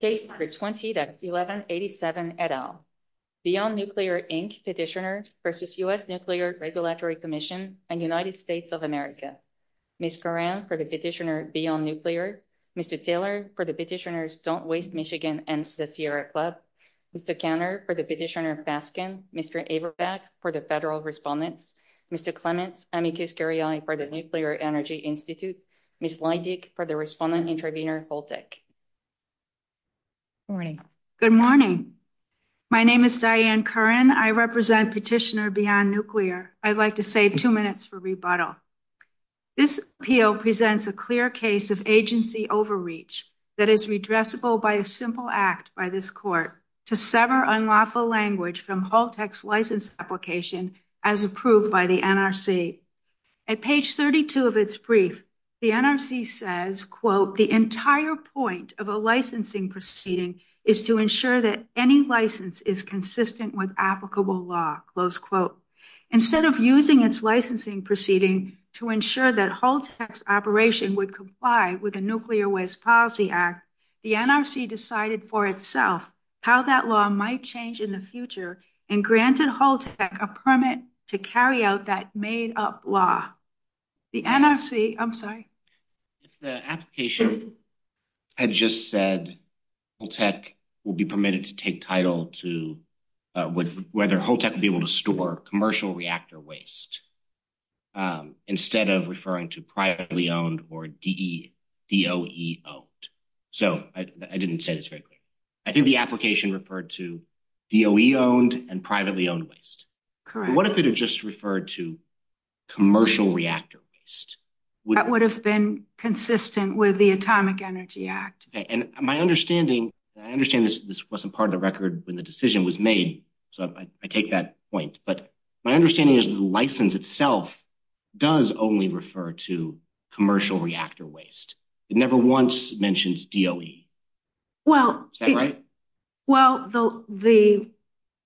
Case number 20-1187 et al. Beyond Nuclear, Inc. petitioner versus U.S. Nuclear Regulatory Commission and United States of America. Ms. Coran for the petitioner Beyond Nuclear. Mr. Taylor for the petitioners Don't Waste Michigan and the Sierra Club. Mr. Kanner for the petitioner Baskin. Mr. Averbeck for the federal respondents. Mr. Clements, amicus curiae for the Nuclear Energy Institute. Ms. Leidig for the respondent and intervener Holtec. Morning. Good morning. My name is Diane Curran. I represent petitioner Beyond Nuclear. I'd like to save two minutes for rebuttal. This appeal presents a clear case of agency overreach that is redressable by a simple act by this court to sever unlawful language from Holtec's NRC. The NRC says, quote, the entire point of a licensing proceeding is to ensure that any license is consistent with applicable law, close quote. Instead of using its licensing proceeding to ensure that Holtec's operation would comply with the Nuclear Waste Policy Act, the NRC decided for itself how that law might change in the future and granted Holtec a permit to carry out that made up law. The NRC, I'm sorry. The application had just said Holtec will be permitted to take title to whether Holtec will be able to store commercial reactor waste instead of referring to privately owned or DOE owned. So I didn't say this very clearly. I think the application referred to DOE owned and privately owned waste. Correct. What if it had just referred to commercial reactor waste? That would have been consistent with the Atomic Energy Act. And my understanding, I understand this wasn't part of the record when the decision was made, so I take that point. But my understanding is the license itself does only refer to Well, the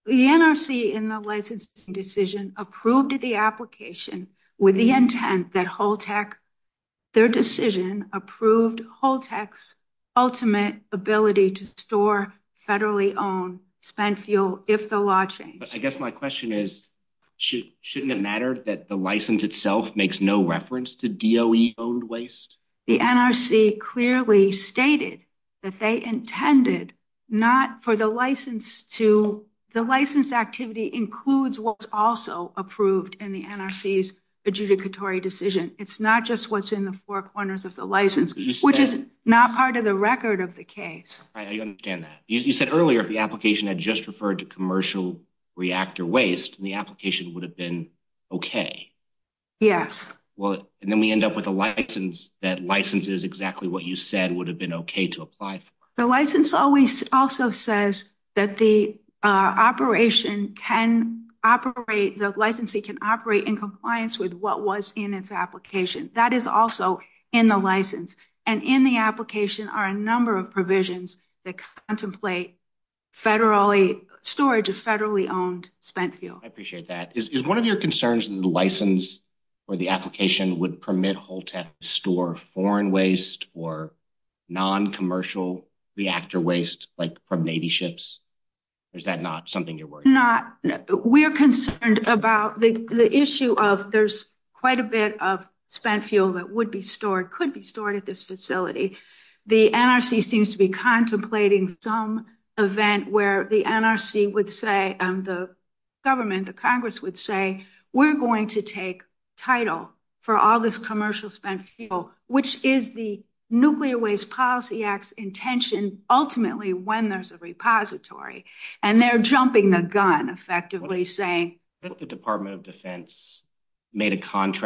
NRC in the licensing decision approved the application with the intent that Holtec, their decision approved Holtec's ultimate ability to store federally owned spent fuel if the law changes. But I guess my question is, shouldn't it matter that the license itself makes no stated that they intended not for the license to the license activity includes what's also approved in the NRC's adjudicatory decision? It's not just what's in the four corners of the license, which is not part of the record of the case. I understand that. You said earlier, if the application had just referred to commercial reactor waste, the application would have been okay. Yes. And then we end up with a license that licenses exactly what you said would have been okay to apply for. The license always also says that the operation can operate, the licensee can operate in compliance with what was in its application. That is also in the license. And in the application are a number of provisions that contemplate federally storage of federally owned spent fuel. I appreciate that. Is one of your concerns that the license or the application would permit Holtec store foreign waste or non-commercial reactor waste like from Navy ships? Is that not something you're worried about? Not. We're concerned about the issue of there's quite a bit of spent fuel that would be stored, could be stored at this facility. The NRC seems to be contemplating some event where the NRC would say, the government, the Congress would say, we're going to take title for all this commercial spent fuel, which is the Nuclear Waste Policy Act's intention, ultimately, when there's a repository. And they're jumping the gun effectively saying- If the Department of Defense made a hangar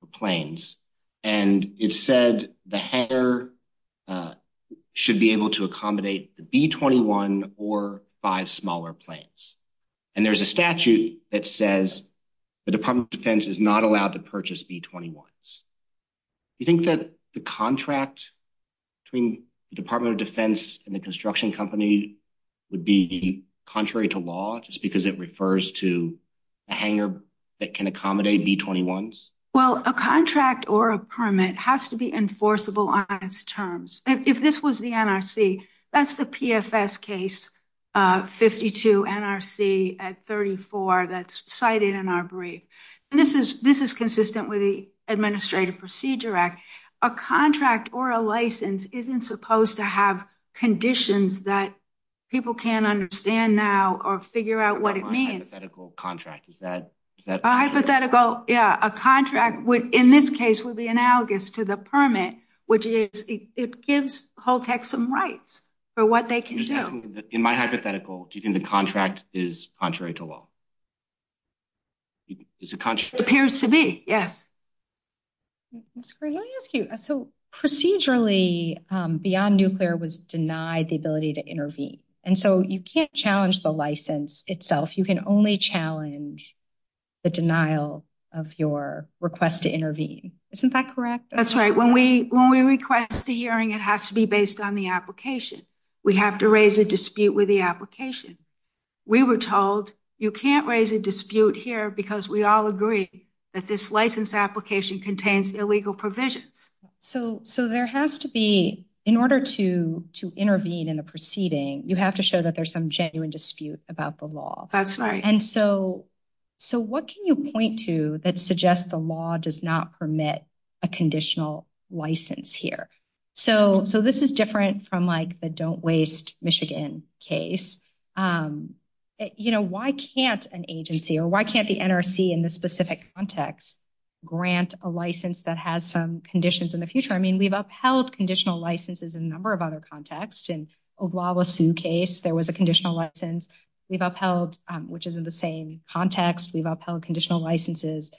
for planes, and it said the hangar should be able to accommodate the B-21 or five smaller planes. And there's a statute that says the Department of Defense is not allowed to purchase B-21s. You think that the contract between the Department of Defense and the construction company would be contrary to law, just because it refers to a hangar that can accommodate B-21s? Well, a contract or a permit has to be enforceable on its terms. If this was the NRC, that's the PFS case 52 NRC at 34 that's cited in our brief. This is consistent with the Administrative Procedure A contract or a license isn't supposed to have conditions that people can't understand now or figure out what it means. Hypothetical contract, is that- A hypothetical, yeah, a contract would, in this case, would be analogous to the permit, which is it gives Holtec some rights for what they can do. In my hypothetical, do you think the contract is contrary to law? It appears to be, yes. That's great. Let me ask you, so procedurally, Beyond Nuclear was denied the ability to intervene. And so you can't challenge the license itself. You can only challenge the denial of your request to intervene. Isn't that correct? That's right. When we request a hearing, it has to be based on the application. We have to raise a dispute with the application. We were told you can't raise a dispute here because we all agree that this license application contains illegal provisions. So there has to be, in order to intervene in the proceeding, you have to show that there's some genuine dispute about the law. That's right. And so what can you point to that suggests the law does not permit a conditional license here? So this is different from the don't waste Michigan case. Why can't an agency or why can't the NRC in this specific context grant a license that has some conditions in the future? I mean, we've upheld conditional licenses in a number of other contexts. In Oglala Sioux case, there was a conditional license we've upheld, which is in same context. We've upheld conditional licenses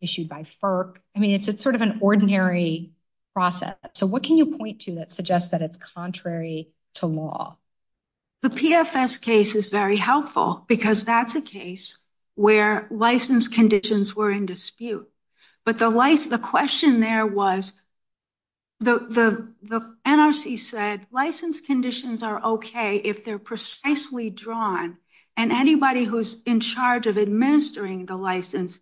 issued by FERC. I mean, it's sort of an ordinary process. So what can you point to that suggests that it's contrary to law? The PFS case is very helpful because that's a case where license conditions were in dispute. But the question there was, the NRC said license conditions are okay if they're precisely drawn and anybody who's in charge of administering the license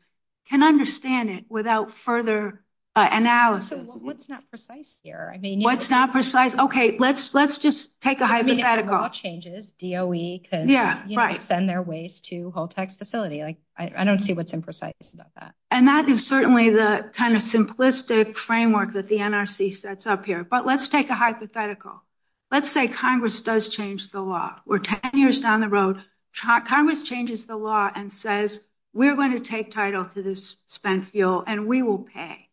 can understand it without further analysis. So what's not precise here? I mean, what's not precise? Okay, let's just take a hypothetical. I mean, if the law changes, DOE could send their waste to Holtex facility. Like, I don't see what's imprecise about that. And that is certainly the kind of simplistic framework that the NRC sets up here. But let's take a hypothetical. Let's say Congress does change the law. We're 10 years down the road. Congress changes the law and says, we're going to take title to this spent fuel and we will pay.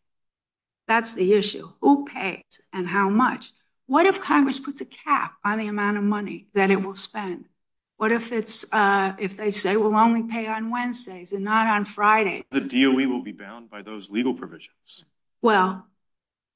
That's the issue. Who pays and how much? What if Congress puts a cap on the amount of money that it will spend? What if they say we'll only pay on Wednesdays and not on Friday? The DOE will be bound by those legal provisions. Well,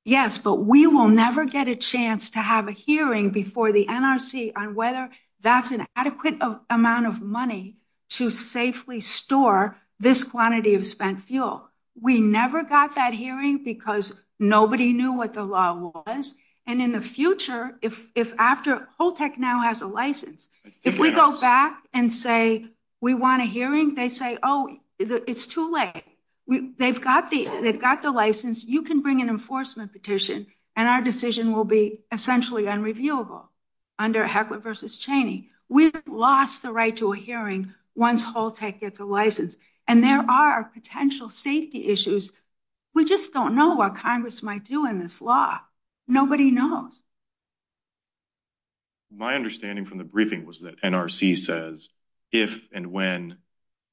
yes, but we will never get a chance to have a hearing before the NRC on whether that's an adequate amount of money to safely store this quantity of spent fuel. We never got that hearing because nobody knew what the law was. And in the future, if after Holtex now has a license, if we go back and say we want a hearing, they say, oh, it's too late. They've got the license. You can bring an enforcement petition and our decision will be essentially unreviewable under Heckler v. Cheney. We've lost the right to a hearing once Holtex gets a license and there are potential safety issues. We just don't know what Congress might do in this law. Nobody knows. My understanding from the briefing was that NRC says if and when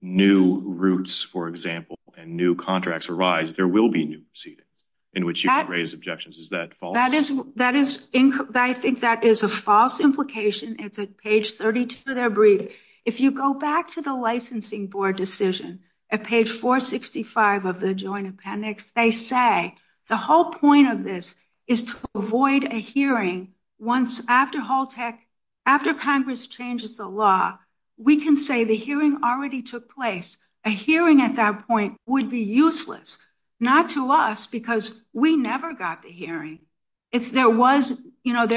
new routes, for example, and new contracts arise, there will be new proceedings in which you can raise objections. That is false. I think that is a false implication. It's at page 32 of their briefing. If you go back to the licensing board decision at page 465 of the Joint Appendix, they say the whole point of this is to avoid a hearing once after Holtex, after Congress changes the law, we can say the hearing already took place. A hearing at that point would be useless, not to us, because we never got the hearing. There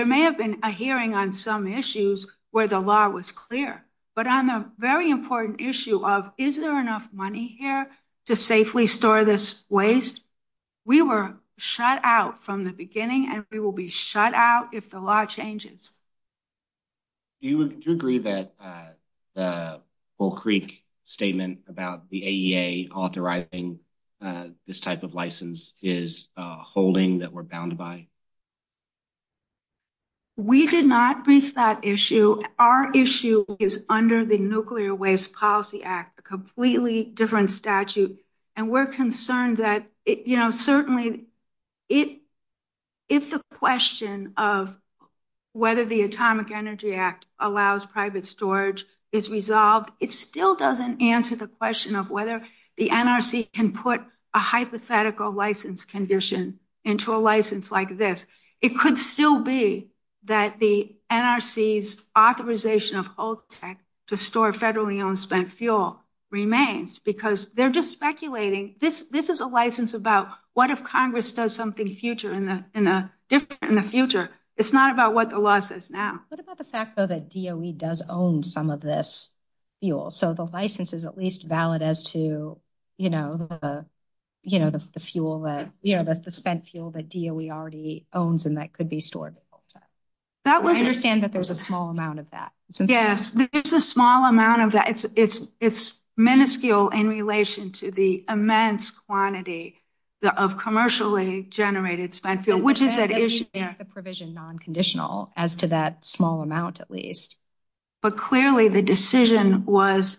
may have been a hearing on some issues where the law was clear, but on the very important issue of is there enough money here to safely store this waste, we were shut out from the beginning and we will be shut out if the law this type of license is holding that we are bound by. We did not brief that issue. Our issue is under the Nuclear Waste Policy Act, a completely different statute. We are concerned that certainly if the question of whether the Atomic Energy Act allows private storage is resolved, it still doesn't answer the question of whether the NRC can put a hypothetical license condition into a license like this. It could still be that the NRC's authorization of Holtex to store federally owned spent fuel remains, because they are just speculating. This is a license about what if Congress does something different in the future. It's not about what the law says now. About the fact that DOE does own some of this fuel, so the license is at least valid as to the spent fuel that DOE already owns and that could be stored. That was understand that there's a small amount of that. Yes, there's a small amount of that. It's minuscule in relation to the immense quantity of commercially generated spent fuel, which is at issue. It's the provision non-conditional as to that small amount at least. But clearly the decision was,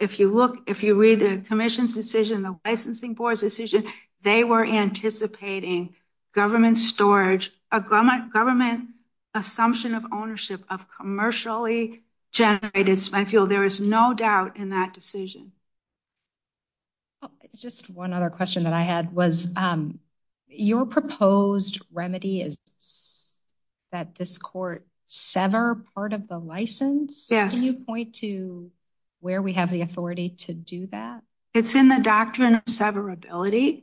if you look, if you read the Commission's decision, the licensing board's decision, they were anticipating government storage, a government assumption of ownership of commercially generated spent fuel. There is no doubt in that decision. Just one other question that I had was, your proposed remedy is that this court sever part of the license. Can you point to where we have the authority to do that? It's in the Doctrine of Severability,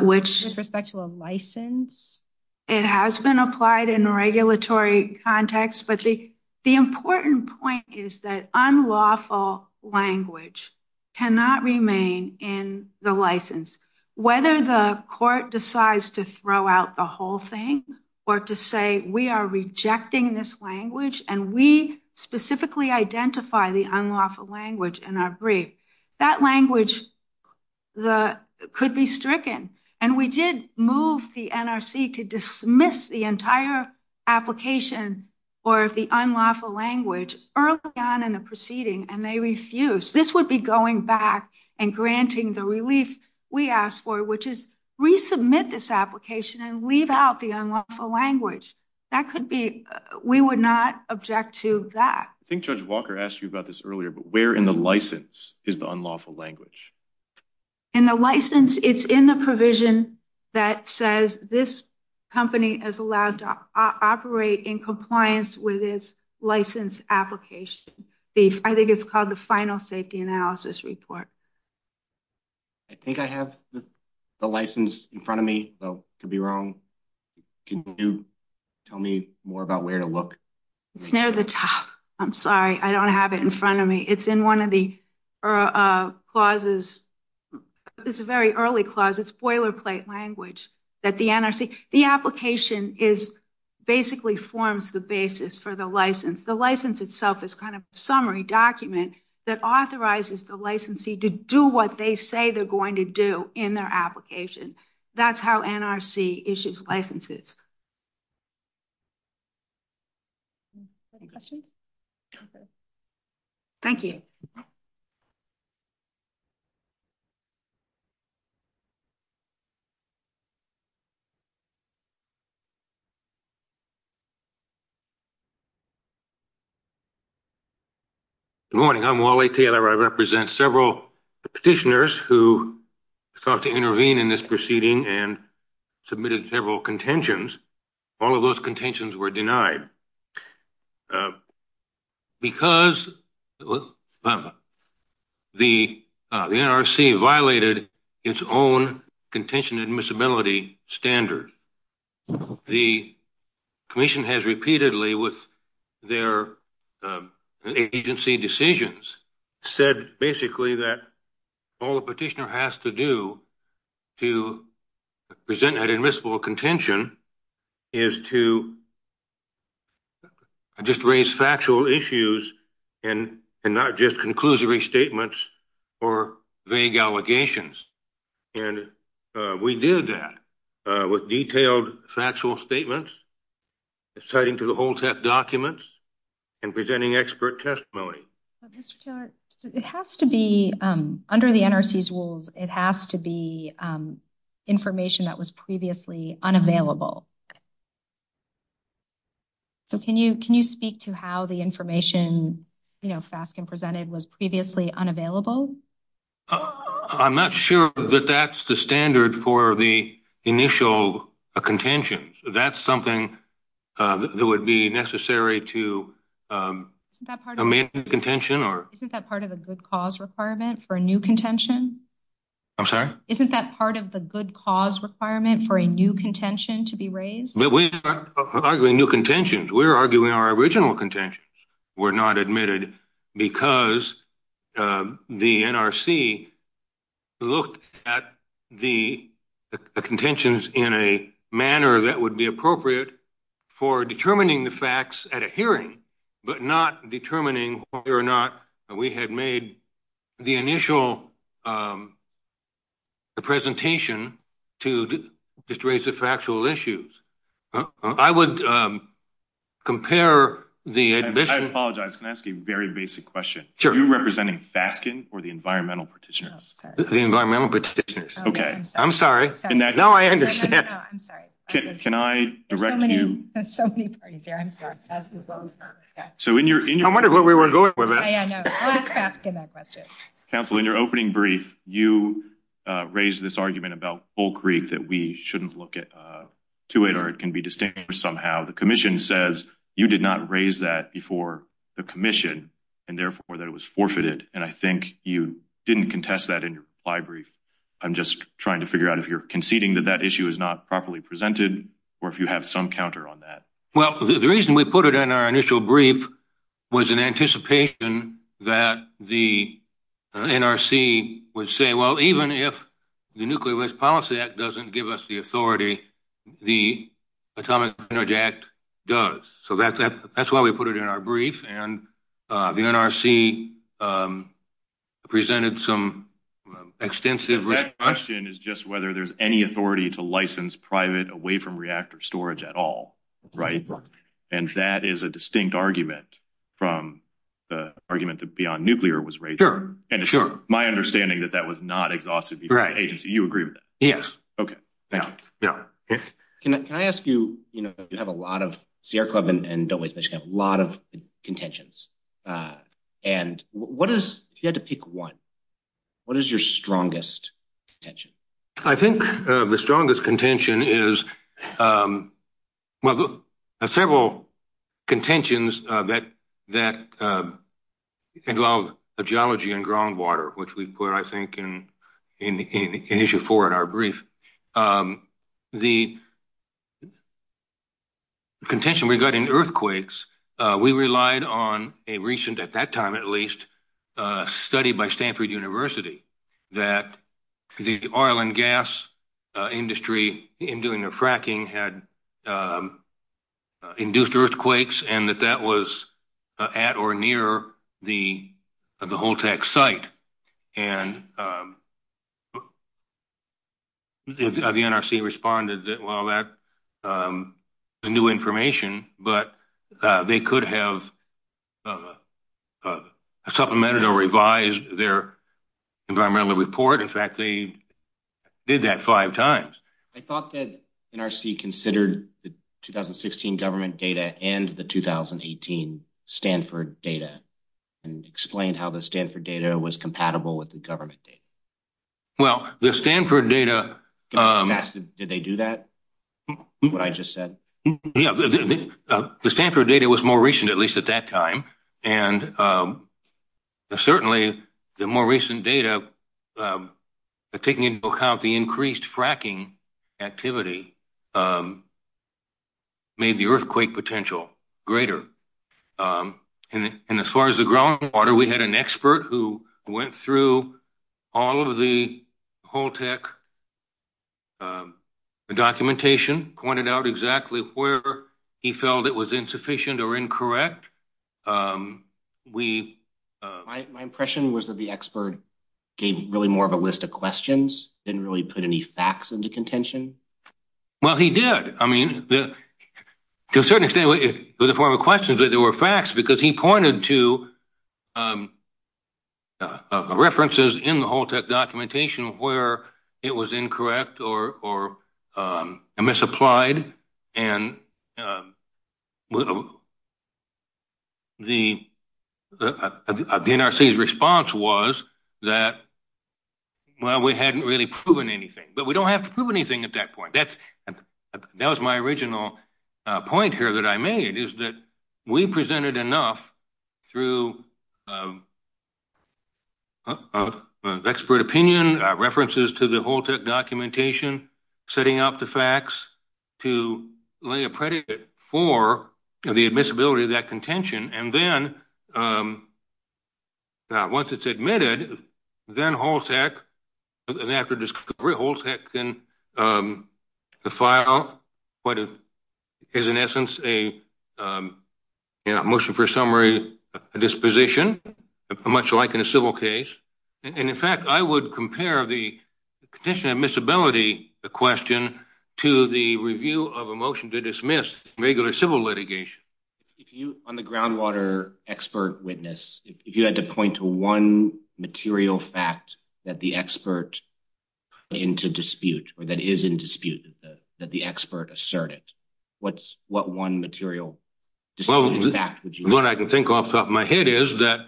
which... With respect to a license? It has been applied in a regulatory context, but the important point is that unlawful language cannot remain in the license. Whether the court decides to throw out the whole thing or to say, we are rejecting this language and we specifically identify the unlawful language in our brief, that language could be stricken. And we did move the NRC to dismiss the entire application for the unlawful language early on in the proceeding and they refused. This would be going back and granting the relief we asked for, which is resubmit this application and leave out the unlawful language. That could be, we would not object to that. I think Judge Walker asked you about this earlier, but where in the license is the unlawful language? In the license, it's in the provision that says this company is allowed to operate in compliance with its license application. I think it's called the Final Safety Analysis Report. I think I have the license in front of me. I could be wrong. Can you tell me more about where to look? It's near the top. I'm sorry. I don't have it in front of me. It's in one of the clauses. It's a very early clause. It's boilerplate language that the NRC, the application is basically forms the basis for the license. The license itself is kind of a summary document that authorizes the licensee to do what they say they're going to do in their application. That's how NRC issues licenses. Any questions? Okay. Thank you. Good morning. I'm Wally Taylor. I represent several petitioners who sought to intervene in this proceeding and submitted several contentions. All of those contentions were denied. Because the NRC violated its own contention admissibility standard, the commission has repeatedly with their agency decisions said basically that all the petitioner has to do to present an admissible contention is to just raise factual issues and not just conclusory statements or vague allegations. We did that with detailed factual statements, citing to the whole set of documents, and presenting expert testimony. It has to be under the NRC's rules, it has to be information that was previously unavailable. Can you speak to how the information FASCN presented was previously unavailable? I'm not sure that that's the standard for the initial contention. That's something that would be necessary to amend the contention. Isn't that part of the good cause requirement for a new contention? I'm sorry? Isn't that part of the good cause requirement for a new contention to be raised? But we're arguing new contentions. We're arguing our original contentions were not admitted because the NRC looked at the contentions in a manner that would be appropriate for determining the facts at a hearing, but not determining whether or not we had made the initial presentation to just raise the factual issues. I would compare the admission... Are you representing FASCN or the Environmental Partitioners? The Environmental Partitioners. Okay. I'm sorry. Now I understand. Can I direct you... There's so many parties here. I'm sorry. I wonder where we were going with this. I know. I'll ask FASCN that question. Council, in your opening brief, you raised this argument about Bull Creek that we shouldn't look to it, or it can be distinguished somehow. The Commission says you did not raise that before the Commission, and therefore, that it was forfeited. And I think you didn't contest that in your reply brief. I'm just trying to figure out if you're conceding that that issue is not properly presented, or if you have some counter on that. Well, the reason we put it in our initial brief was in anticipation that the NRC would say, well, even if the Nuclear Risk Policy Act doesn't give us the authority, the Atomic Energy Act does. So that's why we put it in our brief. And the NRC presented some extensive... That question is just whether there's any authority to license private away from reactor storage at all, right? And that is a distinct argument from the argument that Beyond Nuclear was raised. Sure. And it's my understanding that that was not exhausted before the agency. You agree with that? Yes. Okay. Thank you. Can I ask you, you have a lot of... Sierra Club and Don't Waste Michigan have a lot of contentions. And what is, if you had to pick one, what is your strongest contention? I think the strongest contention is, well, there are several contentions that involve geology and groundwater, which we put, I think, in issue four in our brief. The contention regarding earthquakes, we relied on a recent, at that time at least, study by Stanford University that the oil and gas industry in doing the fracking had induced earthquakes and that that was at or near the Holtec site. And the NRC responded that, well, that is new information, but they could have supplemented or revised their environmental report. In fact, they did that five times. I thought that NRC considered the 2016 government data and the 2018 Stanford data and explained how the Stanford data was compatible with the government data. Well, the Stanford data... Did they do that? What I just said? Yeah. The Stanford data was more recent, at least at that time. And certainly the more recent data but taking into account the increased fracking activity made the earthquake potential greater. And as far as the groundwater, we had an expert who went through all of the Holtec documentation, pointed out exactly where he felt it was insufficient or incorrect. My impression was that the expert gave really more of a list of questions, didn't really put any facts into contention. Well, he did. I mean, to a certain extent, it was a form of questions, but there were facts because he pointed to references in the Holtec documentation where it was incorrect or misapplied and the NRC's response was that, well, we hadn't really proven anything, but we don't have to prove anything at that point. That was my original point here that I made is that we presented enough through expert opinion, references to the Holtec documentation, setting up the facts to lay a predicate for the admissibility of that contention. And then once it's admitted, then Holtec and after discovery, Holtec can file what is in essence a motion for a summary, a disposition, much like in a civil case. And in fact, I would compare the contention admissibility question to the review of a motion to dismiss regular civil litigation. If you, on the groundwater expert witness, if you had to point to one material fact that the expert put into dispute or that is in dispute, that the expert asserted, what's what one material fact would you... What I can think off the top of my head is that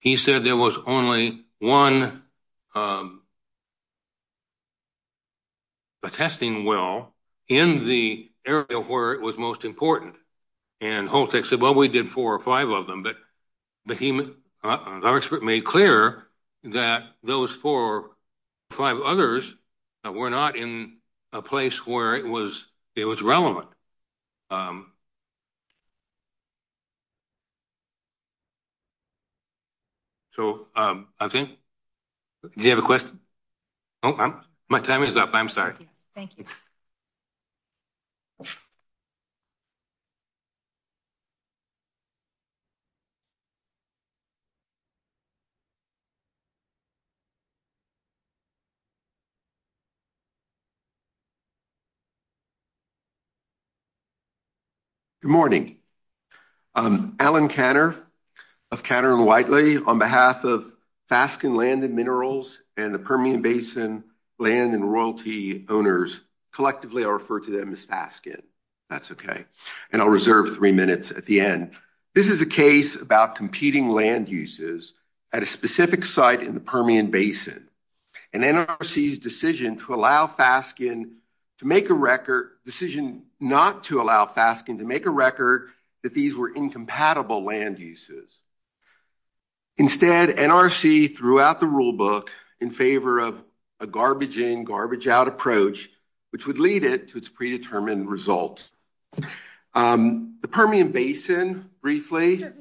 he said there was only one attesting well in the area where it was most important. And Holtec said, well, we did four or five of them, but the expert made clear that those four or five others were not in a place where it was relevant. So I think... Do you have a question? Oh, my time is up. I'm sorry. Thank you. Good morning. Alan Kanter of Kanter and Whiteley, on behalf of Faskin Land and Minerals and the Permian Basin Land and Royalty owners, collectively I'll refer to them as Faskin. That's okay. And I'll reserve three minutes at the end. This is a case about competing land uses at a specific site in the Permian Basin and NRC's decision to allow Faskin to make a record... Decision not to allow Faskin to make a record that these were incompatible land uses. Instead, NRC threw out the rule book in favor of a garbage in, garbage out approach, which would lead it to its predetermined results. The Permian Basin, briefly... The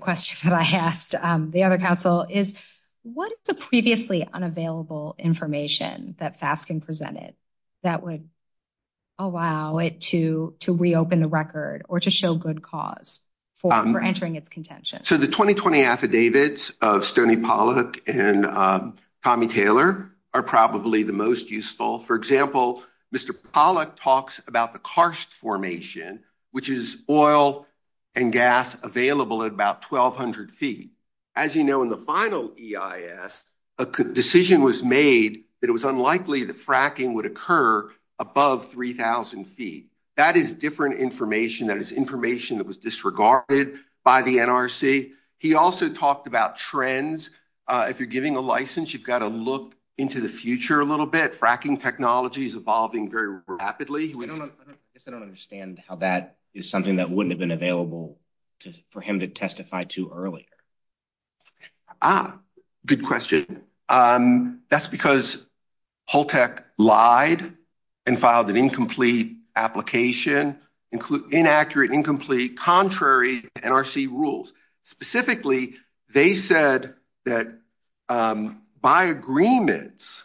question that I asked the other council is, what is the previously unavailable information that Faskin presented that would allow it to reopen the record or to show good cause for entering its contention? So the 2020 affidavits of Stoney Pollack and Tommy Taylor are probably the most useful. For example, Mr. Pollack talks about the karst about 1,200 feet. As you know, in the final EIS, a decision was made that it was unlikely that fracking would occur above 3,000 feet. That is different information. That is information that was disregarded by the NRC. He also talked about trends. If you're giving a license, you've got to look into the future a little bit. Fracking technology is evolving very rapidly. I guess I don't understand how that is something that wouldn't have been available for him to testify to earlier. Ah, good question. That's because Holtec lied and filed an incomplete application, inaccurate and incomplete, contrary to NRC rules. Specifically, they said that by agreements,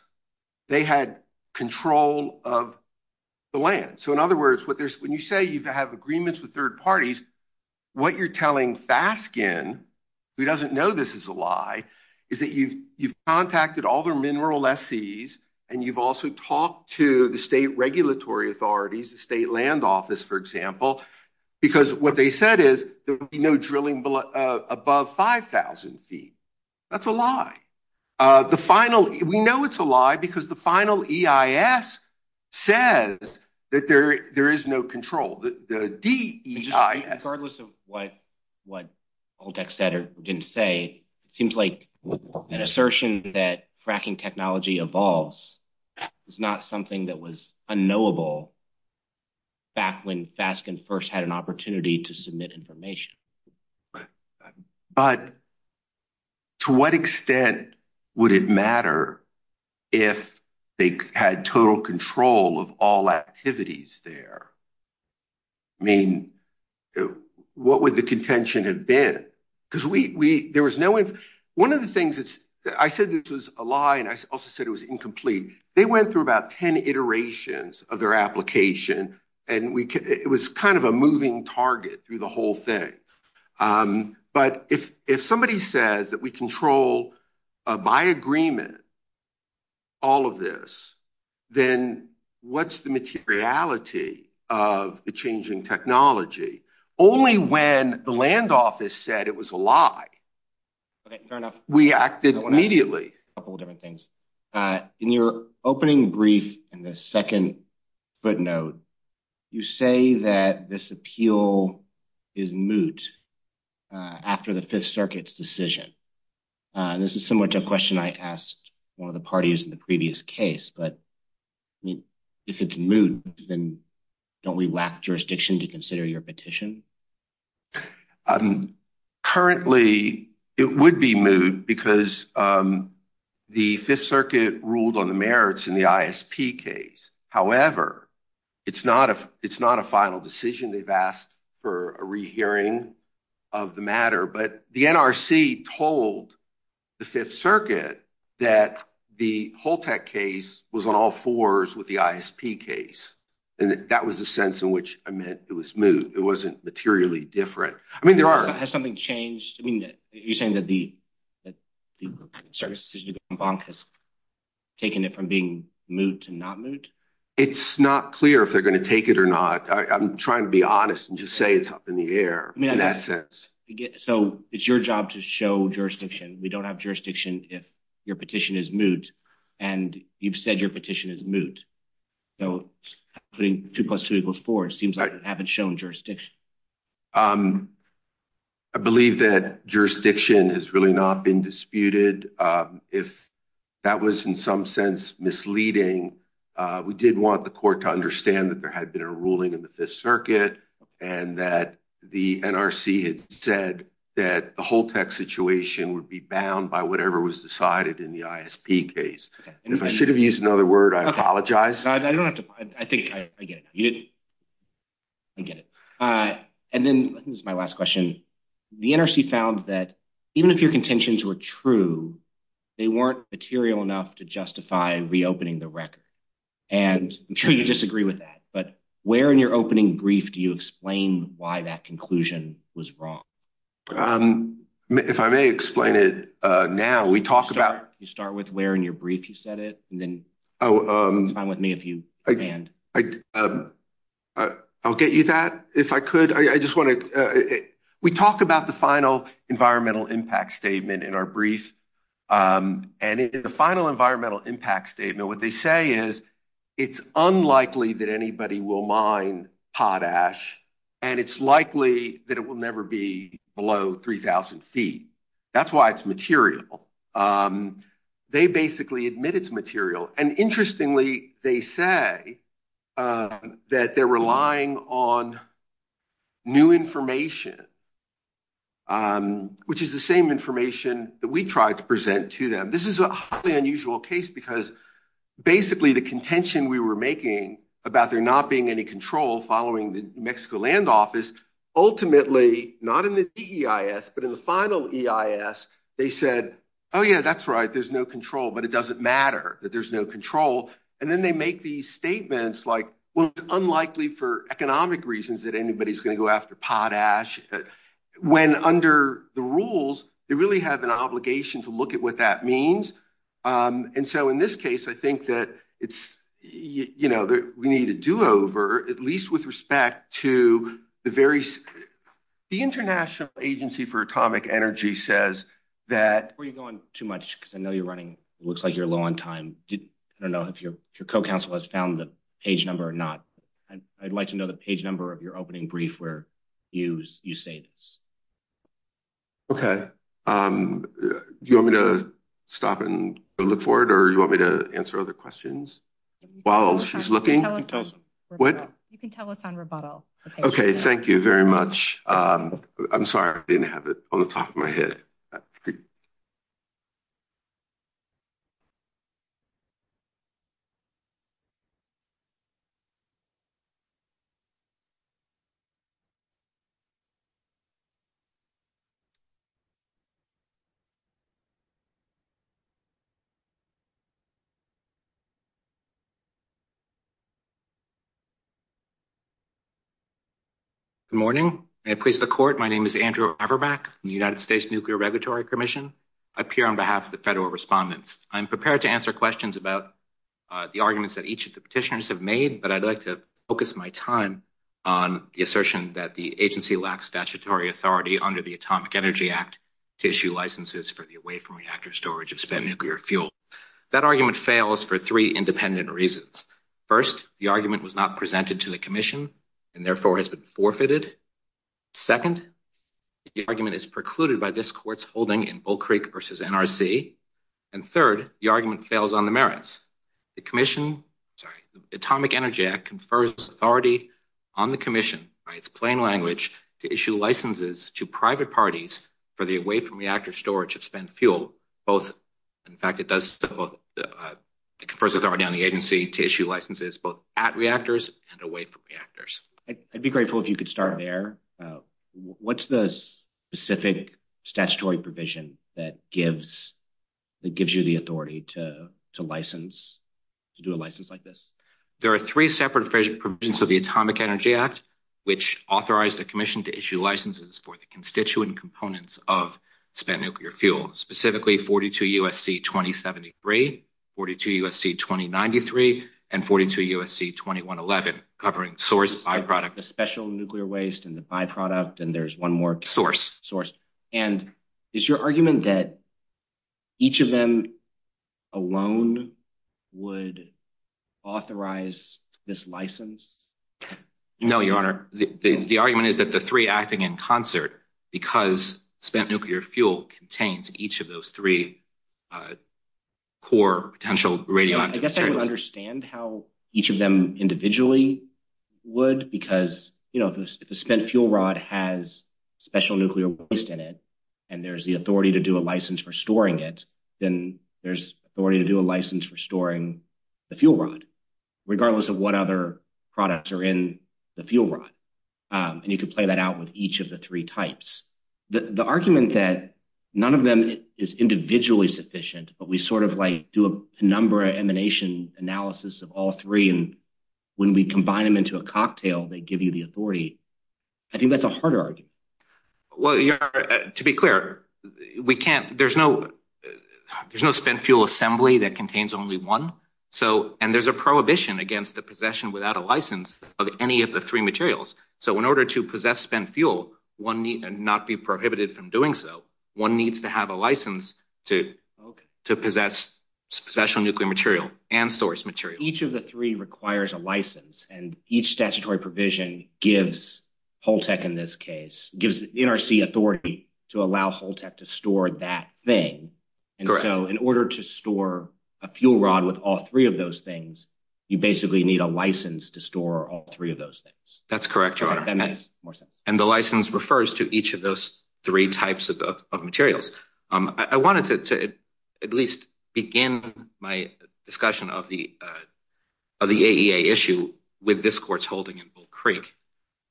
they had control of the land. So in other words, when you say you have agreements with third parties, what you're telling Faskin, who doesn't know this is a lie, is that you've contacted all their mineral lessees, and you've also talked to the state regulatory authorities, the state land office, for example, because what they said is there would be no drilling above 5,000 feet. That's a lie. We know it's a lie because the final EIS says that there is no control. Regardless of what Holtec said or didn't say, it seems like an assertion that fracking technology evolves is not something that was unknowable back when Faskin first had an opportunity to submit information. But to what extent would it matter if they had total control of all activities there? I mean, what would the contention have been? Because there was no one of the things that I said this was a lie, and I also said it was incomplete. They went through about 10 iterations of their application, and it was kind of a moving target through the whole thing. But if somebody says that we control by agreement all of this, then what's the materiality of the changing technology? Only when the land office said it was a lie, we acted immediately. A couple of different things. In your opening brief in the second footnote, you say that this appeal is moot after the Fifth Circuit's decision. This is similar to a question I asked one of the parties in the previous case, but if it's moot, then don't we lack jurisdiction to consider your The Fifth Circuit ruled on the merits in the ISP case. However, it's not a final decision. They've asked for a rehearing of the matter, but the NRC told the Fifth Circuit that the Holtec case was on all fours with the ISP case, and that was the sense in which I meant it was moot. It wasn't materially different. Has something changed? I mean, you're saying that the bank has taken it from being moot to not moot? It's not clear if they're going to take it or not. I'm trying to be honest and just say it's up in the air in that sense. So it's your job to show jurisdiction. We don't have jurisdiction if your petition is moot, and you've said your petition is moot. So putting two plus two equals four, it seems like you haven't shown jurisdiction. I believe that jurisdiction has really not been disputed. If that was in some sense misleading, we did want the court to understand that there had been a ruling in the Fifth Circuit and that the NRC had said that the Holtec situation would be bound by whatever was decided in the ISP case. If I should have used another word, I apologize. I think I get it. I get it. And then this is my last question. The NRC found that even if your contentions were true, they weren't material enough to justify reopening the record. And I'm sure you disagree with that, but where in your opening brief do you explain why that conclusion was wrong? If I may explain it now, we talk about... You start with where in your brief you said it, and then it's fine with me if you expand. I'll get you that if I could. We talk about the final environmental impact statement in our brief, and in the final environmental impact statement, what they say is it's unlikely that anybody will mine potash, and it's likely that it will never be below 3,000 feet. That's why it's material. They basically admit it's material. And interestingly, they say that they're relying on new information, which is the same information that we tried to present to them. This is a highly unusual case because basically the contention we were making about there not being any control following the New Mexico land office, ultimately, not in the DEIS, but in the final EIS, they said, oh yeah, that's right, there's no control, but it doesn't matter that there's no control. And then they make these statements like, well, it's unlikely for economic reasons that anybody's going to go after potash, when under the rules, they really have an obligation to look at what that means. And so in this case, I think that we need a do-over, at least with respect to the The International Agency for Atomic Energy says that... Before you go on too much, because I know you're running, looks like you're low on time. I don't know if your co-counsel has found the page number or not. I'd like to know the page number of your opening brief where you say this. Okay. Do you want me to stop and look for it, or you want me to answer other questions while she's looking? You can tell us on rebuttal. What? Thank you very much. I'm sorry, I didn't have it on the top of my head. Good morning. May it please the court. My name is Andrew Averbach from the United States Nuclear Regulatory Commission. I appear on behalf of the federal respondents. I'm prepared to answer questions about the arguments that each of the petitioners have made, but I'd like to focus my time on the assertion that the agency lacks statutory authority under the Atomic Energy Act to issue licenses for the away from reactor storage of spent nuclear fuel. That argument fails for three independent reasons. First, the argument was not presented to the commission and therefore has been forfeited. Second, the argument is precluded by this court's holding in Bull Creek versus NRC. And third, the argument fails on the merits. The commission, sorry, the Atomic Energy Act confers authority on the commission by its plain language to issue licenses to private parties for the away from reactor storage of spent fuel, both, in fact it does, it confers authority on the agency to issue licenses both at reactors and away from reactors. I'd be grateful if you could start there. What's the specific statutory provision that gives you the authority to license, to do a license like this? There are three separate provisions of the Atomic Energy Act, which authorize the commission to issue licenses for the constituent components of spent nuclear fuel, specifically 42 USC 2073, 42 USC 2093, and 42 USC 2111, covering source by-product. The special nuclear waste and the by-product, and there's one more- Source. Source. And is your argument that each of them alone would authorize this license? No, Your Honor. The argument is that the three acting in concert, because spent nuclear fuel contains each of those three core potential radioactive- I guess I would understand how each of them individually would, because if a spent fuel rod has special nuclear waste in it, and there's the authority to do a license for storing it, then there's authority to do a license for storing the fuel rod, regardless of what other types. The argument that none of them is individually sufficient, but we sort of like do a number of emanation analysis of all three, and when we combine them into a cocktail, they give you the authority, I think that's a harder argument. Well, Your Honor, to be clear, there's no spent fuel assembly that contains only one, and there's a prohibition against the possession without a license of any of the three materials. So in order to possess spent fuel, and not be prohibited from doing so, one needs to have a license to possess special nuclear material and source material. Each of the three requires a license, and each statutory provision gives Holtec, in this case, gives the NRC authority to allow Holtec to store that thing, and so in order to store a fuel rod with all three of those things, you basically need a license to store all three of those things. That's correct, Your Honor, and the license refers to each of those three types of materials. I wanted to at least begin my discussion of the AEA issue with this court's holding in Bull Creek.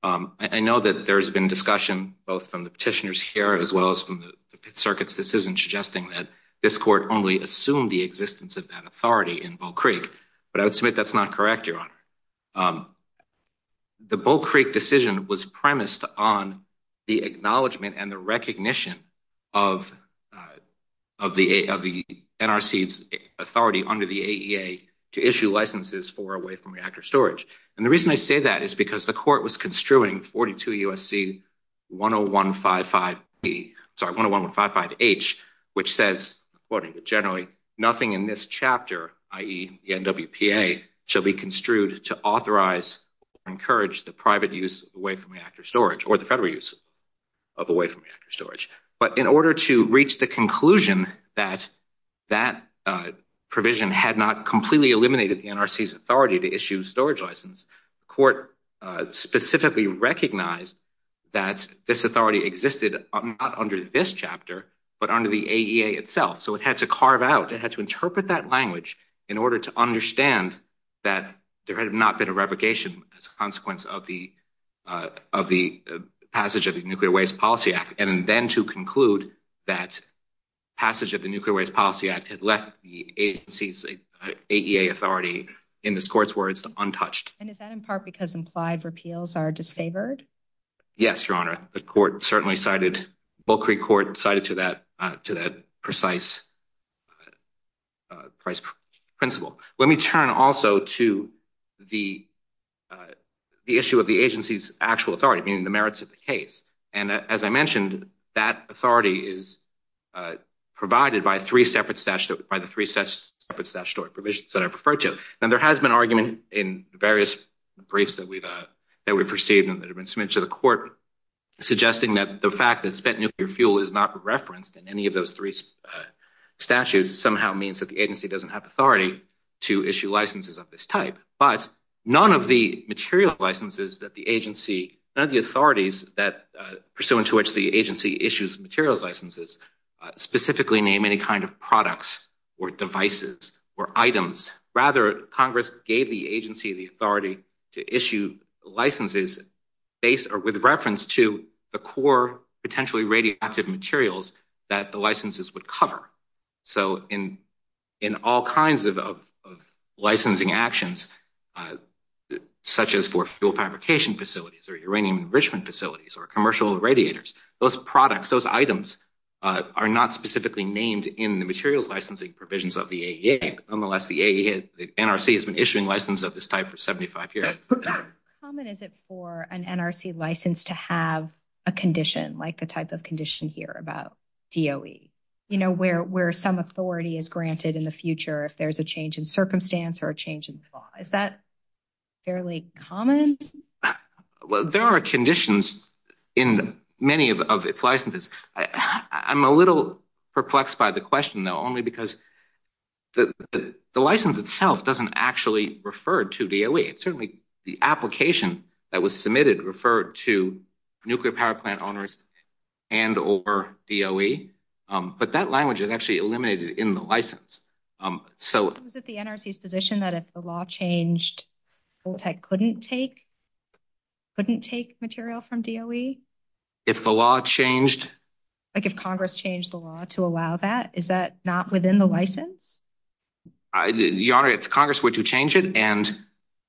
I know that there's been discussion both from the petitioners here, as well as from the circuits, this isn't suggesting that this court only assumed the existence of that authority in Bull Creek, but I would submit that's not correct, Your Honor. The Bull Creek decision was premised on the acknowledgment and the recognition of the NRC's authority under the AEA to issue licenses for away from reactor storage, and the reason I say that is because the court was construing 42 U.S.C. 10155B, sorry, 10155H, which says, quoting generally, nothing in this chapter, i.e. the NWPA, shall be construed to authorize or encourage the private use of away from reactor storage, or the federal use of away from reactor storage. But in order to reach the conclusion that that provision had not completely eliminated the NRC's authority to issue a storage license, the court specifically recognized that this authority existed not under this chapter, but under the AEA itself, so it had to carve out, it had to interpret that language in order to understand that there had not been a revocation as a consequence of the passage of the Nuclear Waste Policy Act, and then to conclude that passage of the Nuclear Waste Policy Act had left the agency's AEA authority, in this court's words, untouched. And is that in part because implied repeals are disfavored? Yes, Your Honor. The court certainly cited, Bulkery Court cited to that precise price principle. Let me turn also to the issue of the agency's actual authority, meaning the merits of the case. And as I mentioned, that authority is provided by the three separate statutory provisions that I've referred to. Now, there has been argument in various briefs that we've, that we've received and that have been submitted to the court, suggesting that the fact that spent nuclear fuel is not referenced in any of those three statutes somehow means that the agency doesn't have authority to issue licenses of this type. But none of the material licenses that the agency, none of the authorities that, pursuant to which the agency issues materials licenses, specifically name any kind of products or devices or items. Rather, Congress gave the agency the authority to issue licenses based or with reference to the core potentially radioactive materials that the licenses would cover. So, in all kinds of licensing actions, such as for fuel fabrication facilities or uranium enrichment facilities or commercial radiators, those products, those items are not specifically named in the materials licensing provisions of the AEA. Nonetheless, the NRC has been issuing licenses of this type for 75 years. How common is it for an NRC license to have a condition, like the type of condition here about DOE? You know, where some authority is granted in the future if there's a change in circumstance or a change in the law. Is that fairly common? Well, there are conditions in many of its licenses. I'm a little perplexed by the question, though, only because the license itself doesn't actually refer to DOE. It's certainly the application that was submitted referred to nuclear power plant owners and or DOE. But that language is actually eliminated in the license. So, is it the NRC's position that if the law changed, couldn't take material from DOE? If the law changed? Like, if Congress changed the law to allow that, is that not within the license? Your Honor, if Congress were to change it and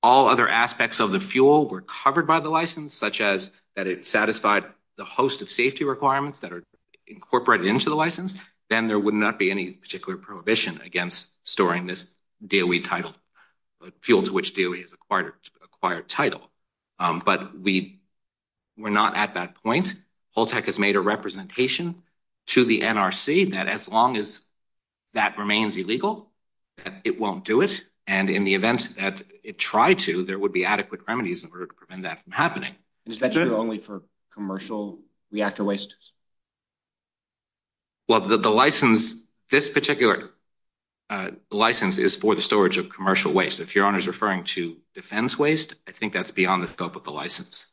all other aspects of the fuel were covered by the license, such as that it satisfied the host of safety requirements that are incorporated into the license, then there would not be any particular prohibition against storing this DOE title, fuel to which DOE is acquired title. But we're not at that point. Holtec has made a representation to the NRC that as long as that remains illegal, that it won't do it. And in the event that it tried to, there would be adequate remedies in order to prevent that from happening. Is that true only for commercial reactor wastes? Well, the license, this particular license is for the storage of commercial waste. If Your Honor is referring to defense waste, I think that's beyond the scope of the license.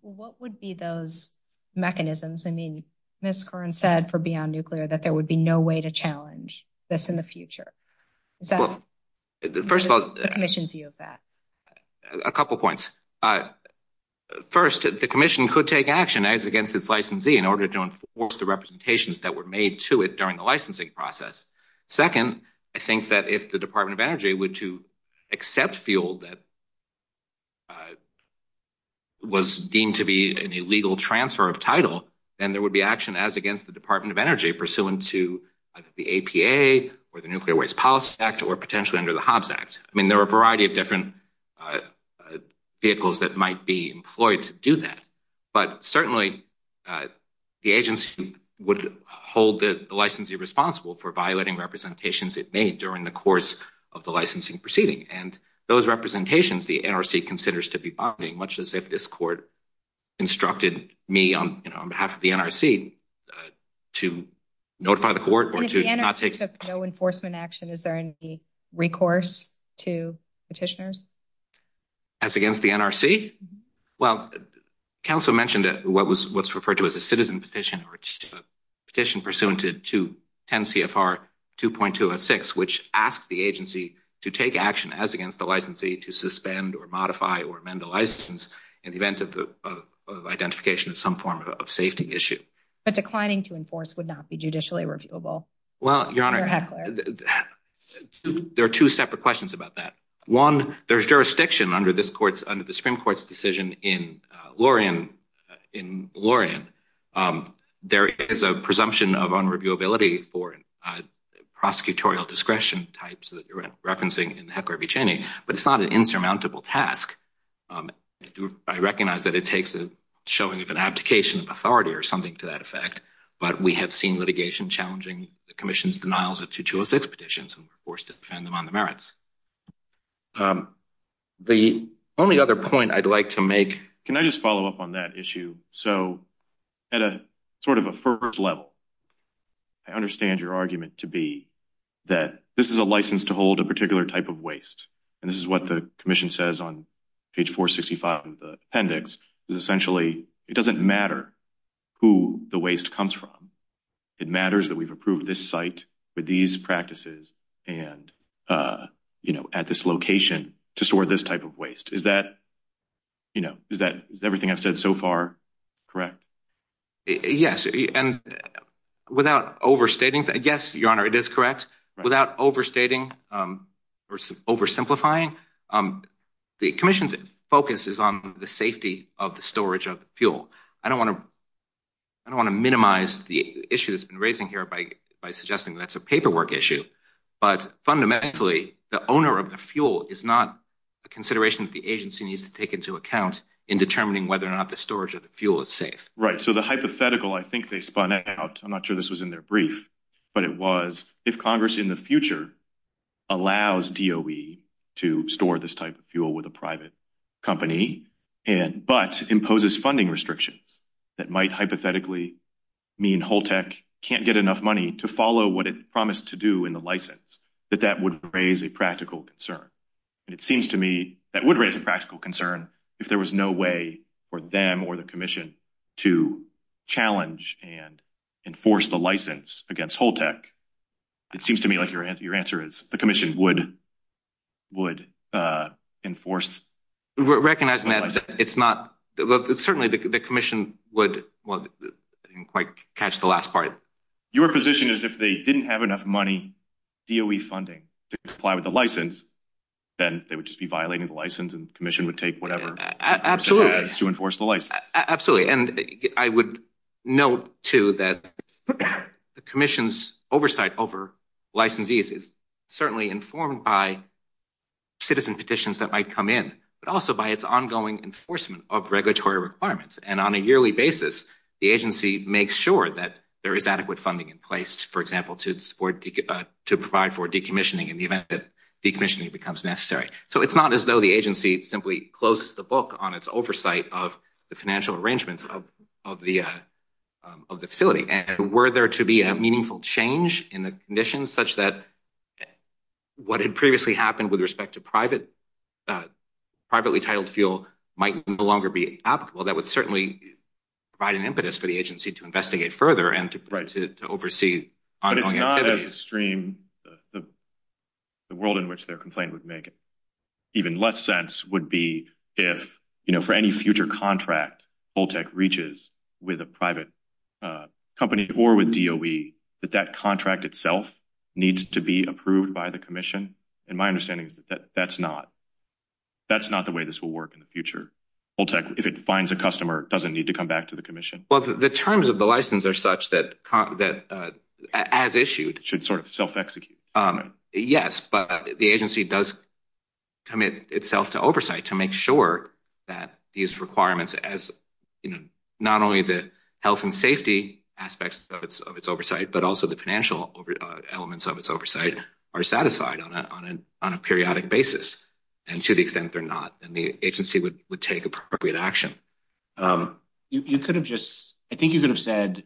What would be those mechanisms? I mean, Ms. Curran said for Beyond Nuclear that there would be no way to challenge this in the future. Is that the Commission's view of that? A couple points. First, the Commission could take action as against its licensee in order to enforce the representations that were made to it during the licensing process. Second, I think that if the Department of Energy were to accept fuel that was deemed to be an illegal transfer of title, then there would be action as against the Department of Energy pursuant to the APA or the Nuclear Waste Policy Act or potentially under the Hobbs Act. I mean, there are a variety of different vehicles that might be employed to do that. But certainly, the agency would hold the licensee responsible for violating representations it made during the course of the licensing proceeding. And those representations the NRC considers to be bombing, much as if this court instructed me on behalf of the NRC to notify the to petitioners. As against the NRC? Well, Council mentioned what's referred to as a citizen petition or petition pursuant to 10 CFR 2.206, which asks the agency to take action as against the licensee to suspend or modify or amend the license in the event of identification of some form of safety issue. But declining to enforce would not be judicially reviewable? Well, Your Honor, there are two separate questions about that. One, there's jurisdiction under this court's under the Supreme Court's decision in Laurian. In Laurian, there is a presumption of unreviewability for prosecutorial discretion types that you're referencing in Heckler v. Cheney, but it's not an insurmountable task. I recognize that it takes a showing of an authority or something to that effect. But we have seen litigation challenging the commission's denials of 2.206 petitions and forced to defend them on the merits. The only other point I'd like to make... Can I just follow up on that issue? So at a sort of a first level, I understand your argument to be that this is a license to hold a particular type of waste. And this is what the who the waste comes from. It matters that we've approved this site with these practices and at this location to store this type of waste. Is that everything I've said so far correct? Yes. And without overstating... Yes, Your Honor, it is correct. Without overstating or oversimplifying, the commission's focus is on the safety of the storage of the fuel. I don't want to minimize the issue that's been raising here by suggesting that's a paperwork issue. But fundamentally, the owner of the fuel is not a consideration that the agency needs to take into account in determining whether or not the storage of the fuel is safe. Right. So the hypothetical I think they spun out, I'm not sure this was in their brief, but it was if Congress in the future allows DOE to store this type of fuel with a private company and but imposes funding restrictions that might hypothetically mean Holtec can't get enough money to follow what it promised to do in the license, that that would raise a practical concern. And it seems to me that would raise a practical concern if there was no way for them or the commission to challenge and enforce the license against Holtec. It seems to me like your answer is the commission would enforce... Recognizing that it's not... Well, certainly the commission would... Well, I didn't quite catch the last part. Your position is if they didn't have enough money, DOE funding to comply with the license, then they would just be violating the license and the commission would Absolutely. And I would note too that the commission's oversight over licensees is certainly informed by citizen petitions that might come in, but also by its ongoing enforcement of regulatory requirements. And on a yearly basis, the agency makes sure that there is adequate funding in place, for example, to provide for decommissioning in the event that decommissioning becomes necessary. So it's not as though the agency simply closes the book on its oversight of the financial arrangements of the facility. And were there to be a meaningful change in the conditions such that what had previously happened with respect to privately titled fuel might no longer be applicable, that would certainly provide an impetus for the agency to investigate further and to oversee... But it's not as extreme... The world in which their complaint would make even less sense would be if, for any future contract, Holtec reaches with a private company or with DOE, that that contract itself needs to be approved by the commission. And my understanding is that that's not the way this will work in the future. Holtec, if it finds a license or such that, as issued... Should sort of self-execute. Yes, but the agency does commit itself to oversight to make sure that these requirements as, you know, not only the health and safety aspects of its oversight, but also the financial elements of its oversight are satisfied on a periodic basis. And to the extent they're not, then the agency would take appropriate action. You could have just... I think you could have said,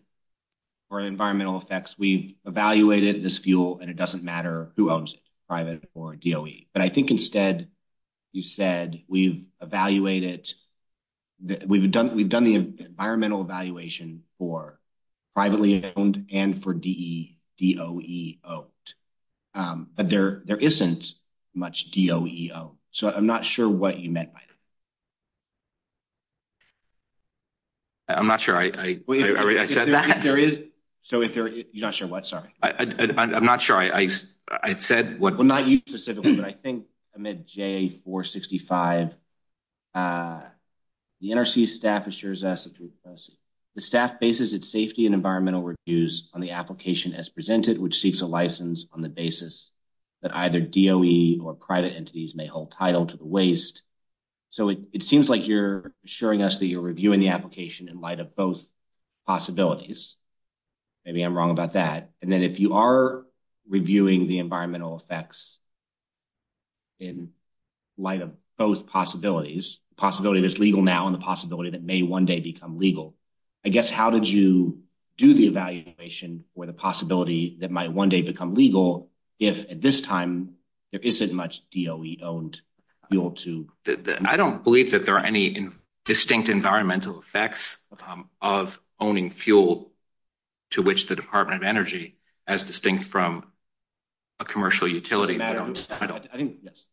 for environmental effects, we've evaluated this fuel and it doesn't matter who owns it, private or DOE. But I think instead you said, we've evaluated... We've done the environmental evaluation for privately owned and for DOE owned. But there isn't much DOE owned. So I'm not sure what you meant by that. I'm not sure I said that. So if there is... You're not sure what? Sorry. I'm not sure I said what. Well, not you specifically, but I think amid JA465, the NRC staff assures us that the staff bases its safety and environmental reviews on the application as presented, which seeks a license on the basis that either DOE or private entities may hold title to the waste. So it seems like you're assuring us that you're reviewing the application in light of both possibilities. Maybe I'm wrong about that. And then if you are reviewing the environmental effects in light of both possibilities, the possibility that's legal now and the possibility that may one day become legal, I guess, how did you do the evaluation for the possibility that might one day become legal if at this time there isn't much DOE owned fuel to... I don't believe that there are any distinct environmental effects of owning fuel to which the Department of Energy as distinct from a commercial utility... That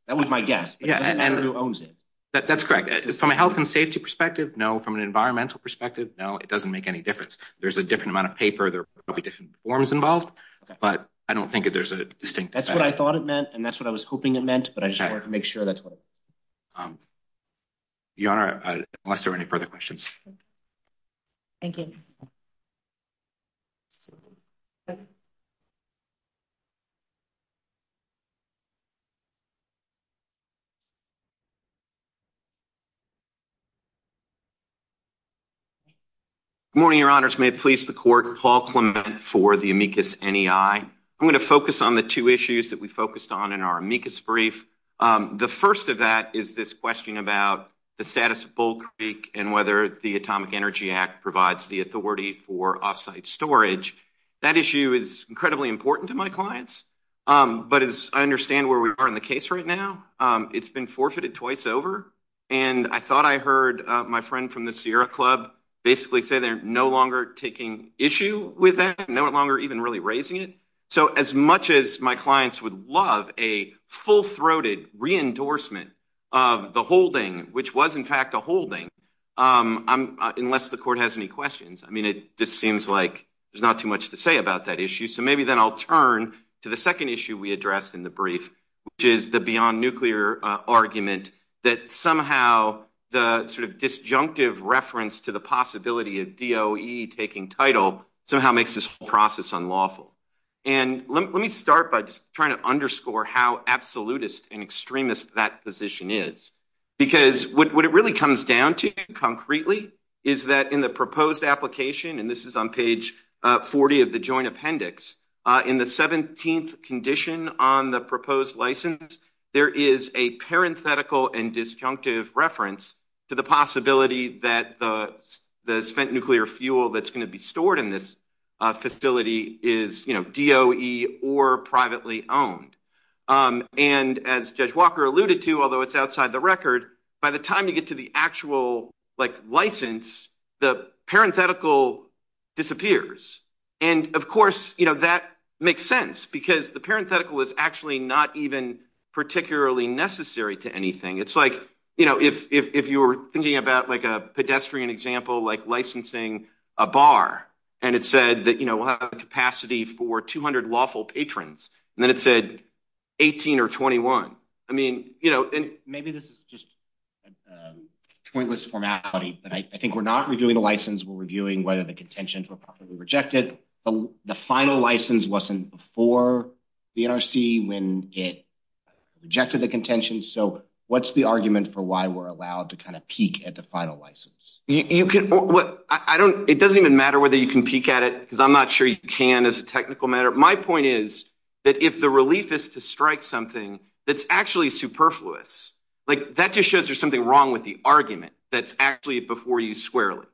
was my guess. That's correct. From a health and safety perspective, no. From an environmental perspective, no, it doesn't make any difference. There's a different amount of paper. There will be different forms involved, but I don't think that there's a distinct effect. That's what I thought it meant and that's what I was hoping it meant, but I just wanted to make sure that's what... Your Honor, unless there are any further questions. Thank you. Good morning, Your Honors. May it please the court, Paul Clement for the amicus NEI. I'm going to The first of that is this question about the status of Bull Creek and whether the Atomic Energy Act provides the authority for off-site storage. That issue is incredibly important to my clients, but as I understand where we are in the case right now, it's been forfeited twice over and I thought I heard my friend from the Sierra Club basically say they're no longer taking issue with that, no longer even really raising it. So as much as my clients would love a full-throated re-endorsement of the holding, which was in fact a holding, unless the court has any questions, I mean, it just seems like there's not too much to say about that issue. So maybe then I'll turn to the second issue we addressed in the brief, which is the beyond nuclear argument that somehow the sort of disjunctive reference to the possibility of DOE taking title somehow makes this whole process unlawful. And let me start by just trying to underscore how absolutist and extremist that position is, because what it really comes down to concretely is that in the proposed application, and this is on page 40 of the joint appendix, in the 17th condition on the proposed license, there is a parenthetical and disjunctive reference to the possibility that the spent nuclear fuel that's going to be stored in this facility is DOE or privately owned. And as Judge Walker alluded to, although it's outside the record, by the time you get to the actual license, the parenthetical disappears. And of course, that makes sense because the parenthetical is actually not even particularly necessary to anything. It's like, you know, if you were thinking about like a pedestrian example, like licensing a bar, and it said that, you know, we'll have a capacity for 200 lawful patrons, and then it said 18 or 21. I mean, you know, and maybe this is just pointless formality, but I think we're not reviewing the license, we're reviewing whether the contentions were properly rejected, but the final license wasn't before the NRC when it rejected the contention. So what's the argument for why we're allowed to kind of peek at the final license? You can, what, I don't, it doesn't even matter whether you can peek at it, because I'm not sure you can as a technical matter. My point is that if the relief is to strike something that's actually superfluous, like that just shows there's something wrong with the argument that's actually before you squarely.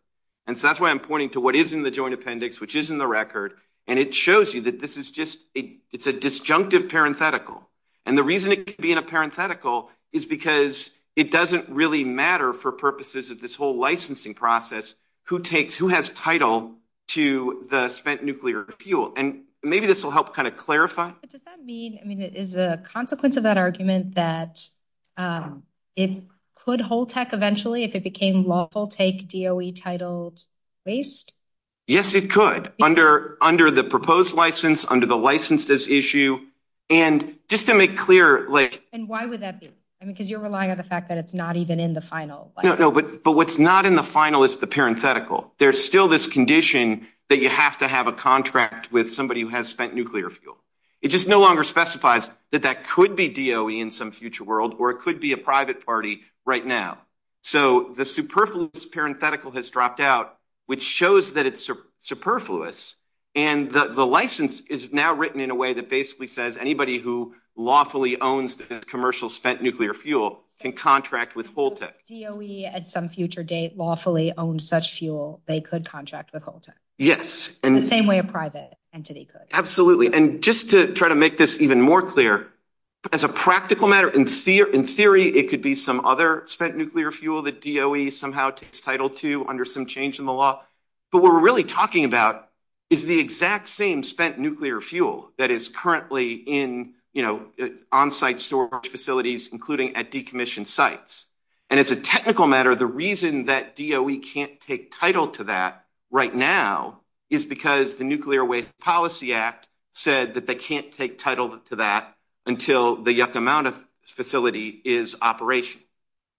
And so that's why I'm pointing to what is in the joint appendix, which is in the record, and it shows you that this is just a, it's a disjunctive parenthetical. And the reason it can be in a parenthetical is because it doesn't really matter for purposes of this whole licensing process who takes, who has title to the spent nuclear fuel. And maybe this will help kind of clarify. But does that mean, I mean, is the consequence of that that it could hold tech eventually if it became lawful take DOE titled waste? Yes, it could under, under the proposed license, under the licensed as issue. And just to make clear, like, and why would that be? I mean, because you're relying on the fact that it's not even in the final. No, but what's not in the final is the parenthetical. There's still this condition that you have to have a contract with somebody who has spent nuclear fuel. It just no longer specifies that that could be DOE in some future world, or it could be a private party right now. So the superfluous parenthetical has dropped out, which shows that it's superfluous. And the license is now written in a way that basically says anybody who lawfully owns the commercial spent nuclear fuel can contract with whole tech DOE at some future date lawfully own such fuel. They could contract with Holton. Yes. And the same way a private entity could. Absolutely. And just to make this even more clear, as a practical matter, in theory, in theory, it could be some other spent nuclear fuel that DOE somehow takes title to under some change in the law. But what we're really talking about is the exact same spent nuclear fuel that is currently in, you know, on-site storage facilities, including at decommissioned sites. And as a technical matter, the reason that DOE can't take title to that right now is because the Nuclear Waste Policy Act said that they can't take title to that until the Yucca Mountain facility is operation.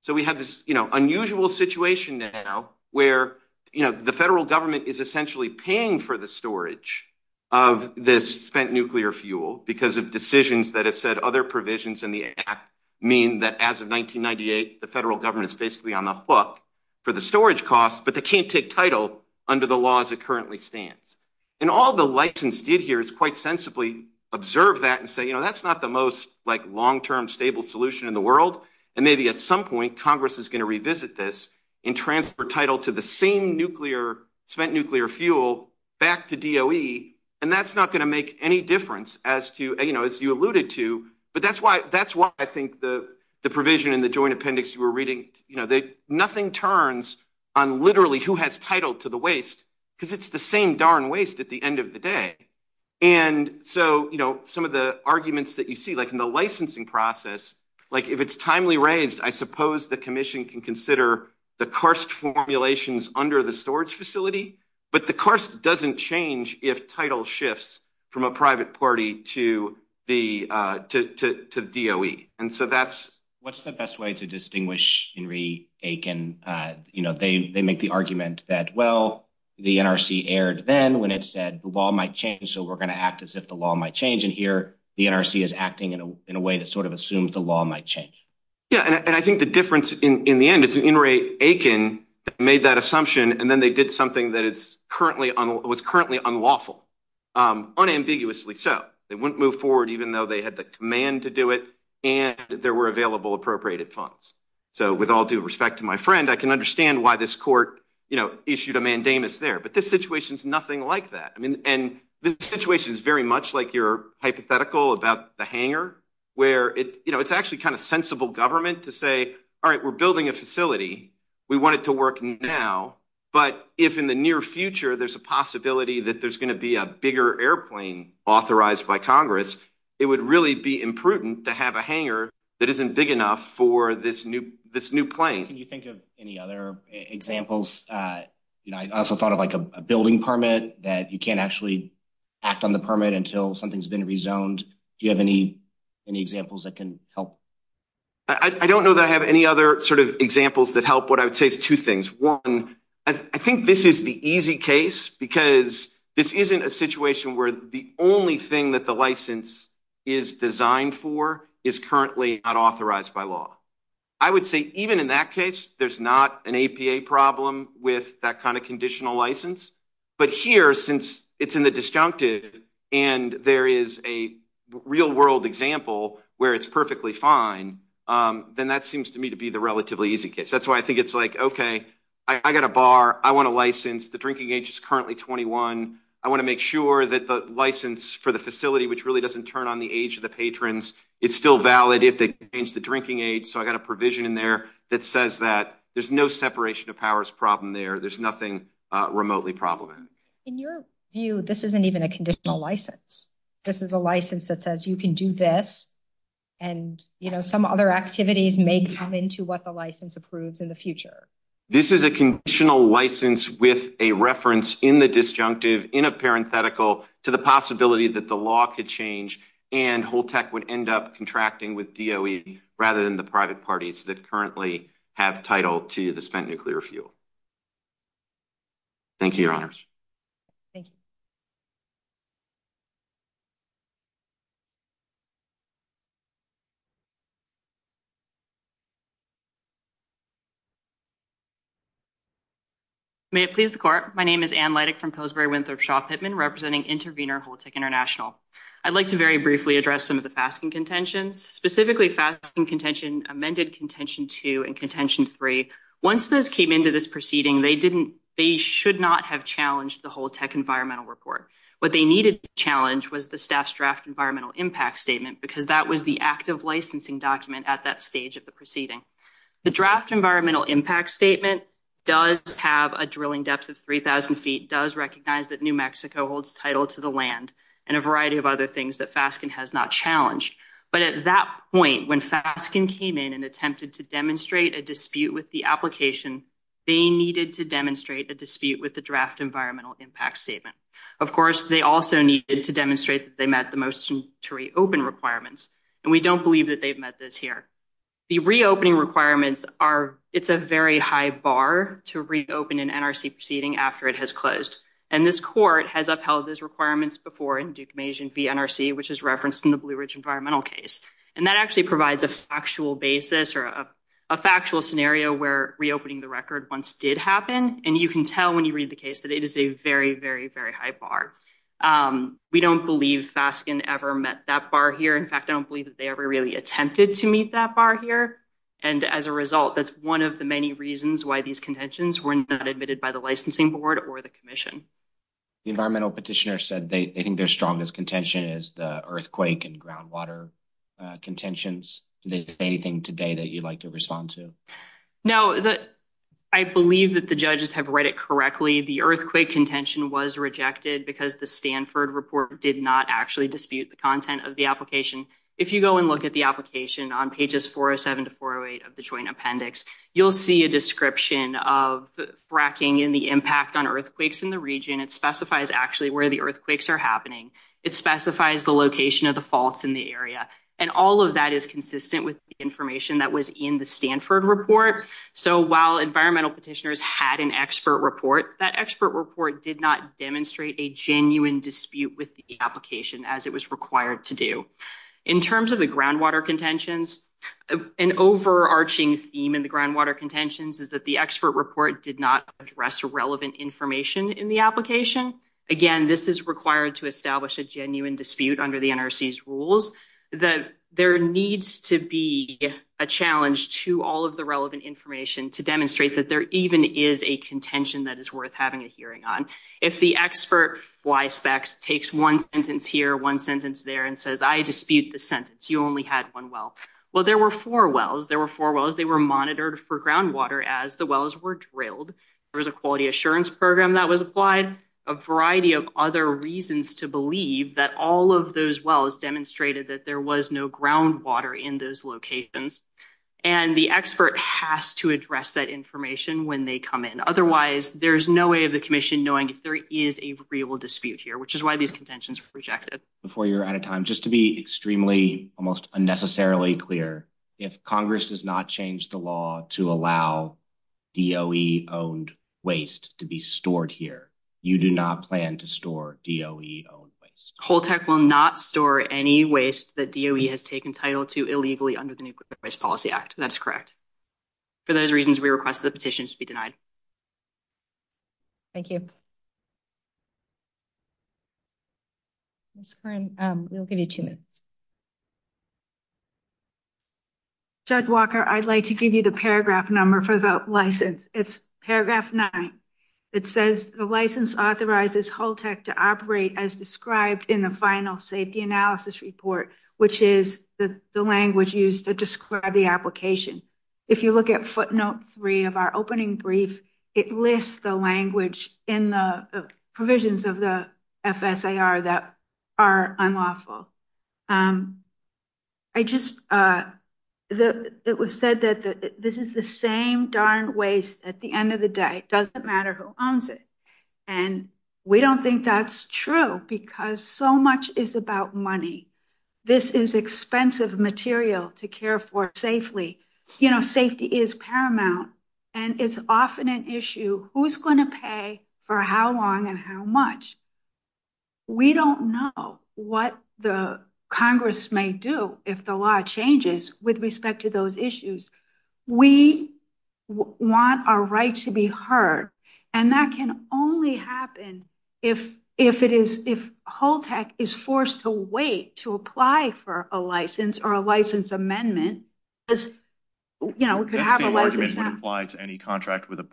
So we have this, you know, unusual situation now where, you know, the federal government is essentially paying for the storage of this spent nuclear fuel because of decisions that have said other provisions in the act mean that as of 1998, the federal government is basically on the hook for the storage costs, but they can't take title under the laws it currently stands. And all the license did here is quite sensibly observe that and say, you know, that's not the most, like, long-term stable solution in the world. And maybe at some point Congress is going to revisit this and transfer title to the same spent nuclear fuel back to DOE, and that's not going to make any difference as to, you know, as you alluded to. But that's why I think the provision in the joint appendix you were reading, you know, nothing turns on literally who has title to the waste, because it's the same darn waste at the end of the day. And so, you know, some of the arguments that you see, like in the licensing process, like if it's timely raised, I suppose the commission can consider the Karst formulations under the storage facility, but the Karst doesn't change if title shifts from a private party to the DOE. And so that's... In re Aiken, you know, they make the argument that, well, the NRC erred then when it said the law might change, so we're going to act as if the law might change. And here the NRC is acting in a way that sort of assumes the law might change. Yeah, and I think the difference in the end is in re Aiken made that assumption, and then they did something that was currently unlawful, unambiguously so. They wouldn't move forward even though they had the command to do it, and there were available appropriated funds. So with all due respect to my friend, I can understand why this court, you know, issued a mandamus there, but this situation is nothing like that. I mean, and this situation is very much like your hypothetical about the hangar, where it, you know, it's actually kind of sensible government to say, all right, we're building a facility, we want it to work now, but if in the near future, there's a possibility that there's going to be a bigger airplane authorized by Congress, it would really be imprudent to have a hangar that isn't big enough for this new plane. Can you think of any other examples? You know, I also thought of like a building permit that you can't actually act on the permit until something's been rezoned. Do you have any examples that can help? I don't know that I have any other sort of examples that help. What I would say is two things. One, I think this is the easy case because this isn't a situation where the only thing that the license is designed for is currently not authorized by law. I would say even in that case, there's not an APA problem with that kind of conditional license. But here, since it's in the disjunctive and there is a real world example where it's perfectly fine, then that seems to me to be the relatively easy case. That's why I think it's like, okay, I got a bar, I want a license, the drinking age is currently 21. I want to make sure that the license for the facility, which really doesn't turn on the age of the patrons, it's still valid if they change the drinking age. So I got a provision in there that says that there's no separation of powers problem there. There's nothing remotely problematic. In your view, this isn't even a conditional license. This is a license that says you can do this. And, you know, some other activities may come into what the license approves in the future. This is a conditional license with a reference in the disjunctive, in a parenthetical to the possibility that the law could change and whole tech would end up contracting with DOE rather than the private parties that currently have title to the spent nuclear fuel. Thank you, your honors. Thank you. May it please the court. My name is Anne Leitich from Pillsbury Winthrop Shaw Pittman, representing Intervenor Whole Tech International. I'd like to very briefly address some of the fasking contentions, specifically fasking contention, amended contention two and contention three. Once those came into this proceeding, they didn't, they should not have challenged the whole tech environmental report. What they needed to challenge was the staff's draft environmental impact statement, because that was the active licensing document at that stage of proceeding. The draft environmental impact statement does have a drilling depth of 3,000 feet, does recognize that New Mexico holds title to the land and a variety of other things that fasking has not challenged. But at that point, when fasking came in and attempted to demonstrate a dispute with the application, they needed to demonstrate a dispute with the draft environmental impact statement. Of course, they also needed to demonstrate that they met the motion to reopen requirements. And we don't believe that they've met those here. The reopening requirements are, it's a very high bar to reopen an NRC proceeding after it has closed. And this court has upheld those requirements before in Duke-Majan v. NRC, which is referenced in the Blue Ridge environmental case. And that actually provides a factual basis or a factual scenario where reopening the record once did happen. And you can tell when you read the case that it is a very, very high bar. We don't believe fasking ever met that bar here. In fact, I don't believe that they ever really attempted to meet that bar here. And as a result, that's one of the many reasons why these contentions were not admitted by the licensing board or the commission. The environmental petitioner said they think their strongest contention is the earthquake and groundwater contentions. Is there anything today that you'd like to respond to? No, I believe that the judges have read it correctly. The earthquake contention was rejected because the Stanford report did not actually dispute the content of the application. If you go and look at the application on pages 407 to 408 of the joint appendix, you'll see a description of fracking and the impact on earthquakes in the region. It specifies actually where the earthquakes are happening. It specifies the location of the faults in the area. And all of that is consistent with the information that was in the Stanford report. So while environmental petitioners had an expert report, that expert report did not demonstrate a genuine dispute with the application as it was required to do. In terms of the groundwater contentions, an overarching theme in the groundwater contentions is that the expert report did not address relevant information in the application. Again, this is required to establish a genuine dispute under the NRC's rules that there needs to be a challenge to all of the relevant information to demonstrate that there even is a contention that is worth having a hearing on. If the expert fly specs takes one sentence here, one sentence there, and says, I dispute the sentence, you only had one well. Well, there were four wells. There were four wells. They were monitored for groundwater as the wells were drilled. There was a quality assurance program that was applied, a variety of other reasons to water in those locations. And the expert has to address that information when they come in. Otherwise, there's no way of the commission knowing if there is a real dispute here, which is why these contentions were rejected. Before you're out of time, just to be extremely, almost unnecessarily clear, if Congress does not change the law to allow DOE-owned waste to be stored here, you do not plan to store DOE-owned waste? Holtec will not store any waste that DOE has taken title to illegally under the Nuclear Waste Policy Act. That's correct. For those reasons, we request the petitions to be denied. Thank you. Ms. Kern, we'll give you two minutes. Judge Walker, I'd like to give you the paragraph number for the license. It's paragraph nine. It says the license authorizes Holtec to operate as described in the final safety analysis report, which is the language used to describe the application. If you look at footnote three of our opening brief, it lists the language in the provisions of the FSAR that are unlawful. It was said that this is the same darn waste at the end of the day. It doesn't matter who owns it. We don't think that's true because so much is about money. This is expensive material to care for safely. Safety is paramount. It's often an issue, who's going to pay for how long and how much. We don't know what the Congress may do if the law changes with respect to those issues. We want our rights to be heard. That can only happen if Holtec is forced to wait to apply for a license or a license amendment. That same argument would apply to any contract with a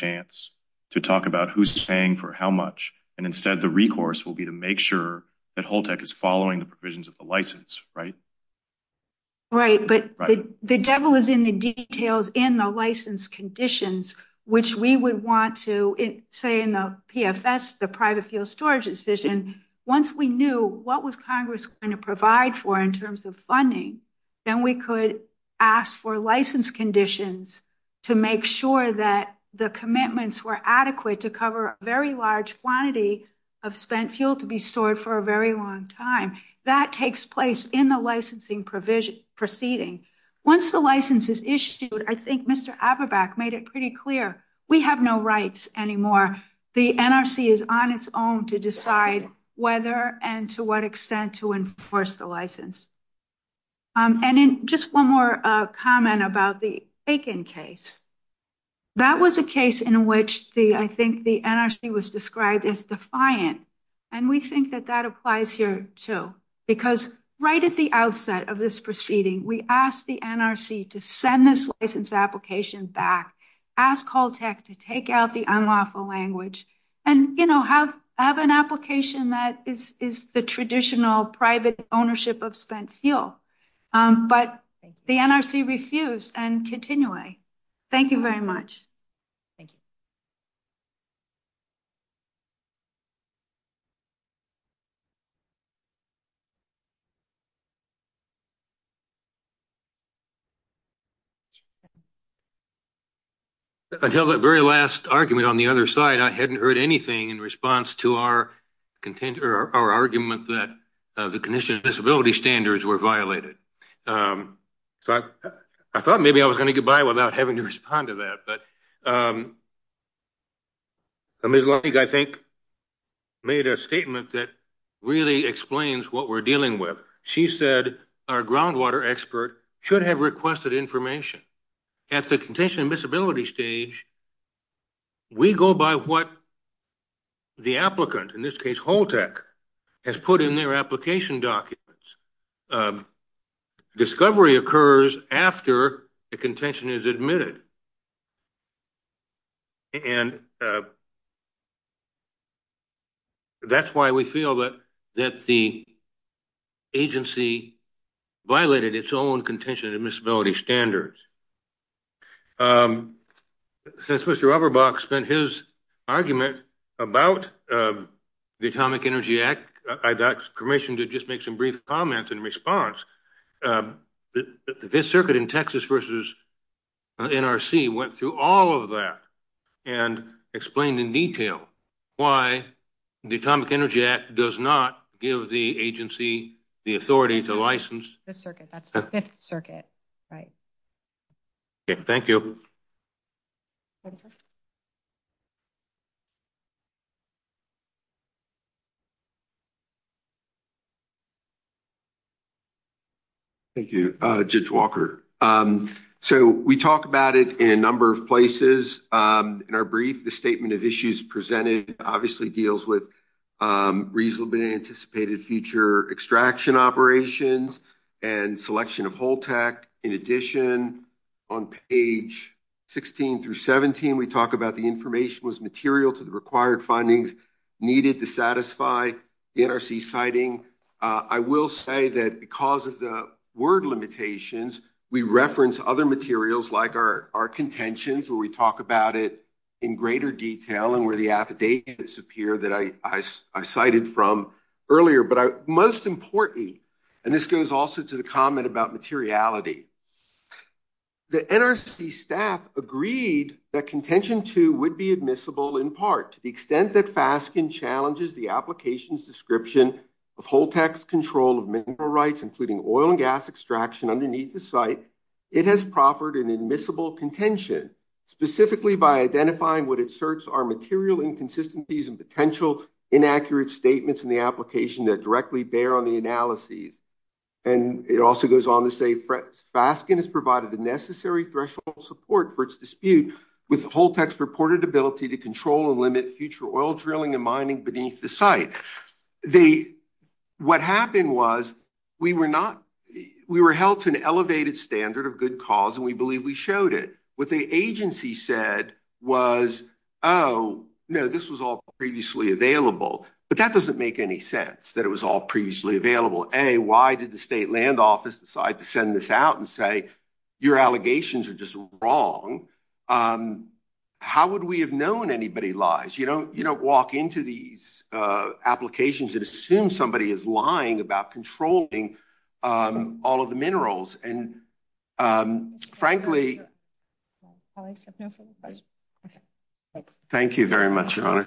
chance to talk about who's paying for how much. Instead, the recourse will be to make sure that Holtec is following the provisions of the license, right? Right, but the devil is in the details in the license conditions, which we would want to say in the PFS, the private field storage decision, once we knew what was Congress going to provide for in could ask for license conditions to make sure that the commitments were adequate to cover a very large quantity of spent fuel to be stored for a very long time. That takes place in the licensing proceeding. Once the license is issued, I think Mr. Aberbach made it pretty clear, we have no rights anymore. The NRC is on its own to decide whether and to what extent to enforce the license. Just one more comment about the Aiken case. That was a case in which I think the NRC was described as defiant. We think that applies here too. Right at the outset of this proceeding, we asked the NRC to send this license application back, ask Holtec to take out the of spent fuel. But the NRC refused and continue. Thank you very much. Until that very last argument on the other side, I hadn't heard anything in response to our argument that the condition and disability standards were violated. I thought maybe I was going to go by without having to respond to that. Ms. Lohning, I think, made a statement that really explains what we're dealing with. She said our groundwater expert should have requested information. At the condition and disability stage, we go by what the applicant, in this case Holtec, has put in their application documents. Discovery occurs after the contention is admitted. That's why we feel that the agency violated its own contention and admissibility standards. Since Mr. Aberbach spent his argument about the Atomic Energy Act, I got permission to just make some brief comments in response. The Fifth Circuit in Texas versus NRC went through all of that and explained in detail why the Atomic Energy Act does not give the agency the authority to license the circuit. That's the Fifth Circuit. Thank you. Thank you, Judge Walker. We talked about it in a number of places. In our brief, the statement of issues presented obviously deals with reasonably anticipated future extraction operations and selection of Holtec. In addition, on page 16-17, we talk about the information was material to the required findings needed to satisfy the NRC citing. I will say that because of the word limitations, we reference other materials like our contentions where we talk about it in greater detail and where the affidavits appear that I cited from earlier. Most importantly, and this goes also to the comment about materiality, the NRC staff agreed that contention 2 would be admissible in part to the extent that FASCN challenges the application's description of Holtec's control of mineral rights, including oil and gas extraction underneath the site. It has proffered an admissible contention specifically by identifying what it asserts are material inconsistencies and potential inaccurate statements in the application that directly bear on the analyses. It also goes on to say FASCN has provided the necessary threshold support for its dispute with Holtec's purported ability to control and limit future oil drilling and mining beneath the site. What happened was we were held to an elevated standard of good cause, and we believe showed it. What the agency said was, oh, no, this was all previously available. But that doesn't make any sense that it was all previously available. A, why did the state land office decide to send this out and say your allegations are just wrong? How would we have known anybody lies? You don't walk into these applications and assume somebody is lying about controlling all of the minerals. And, frankly, thank you very much, Your Honor.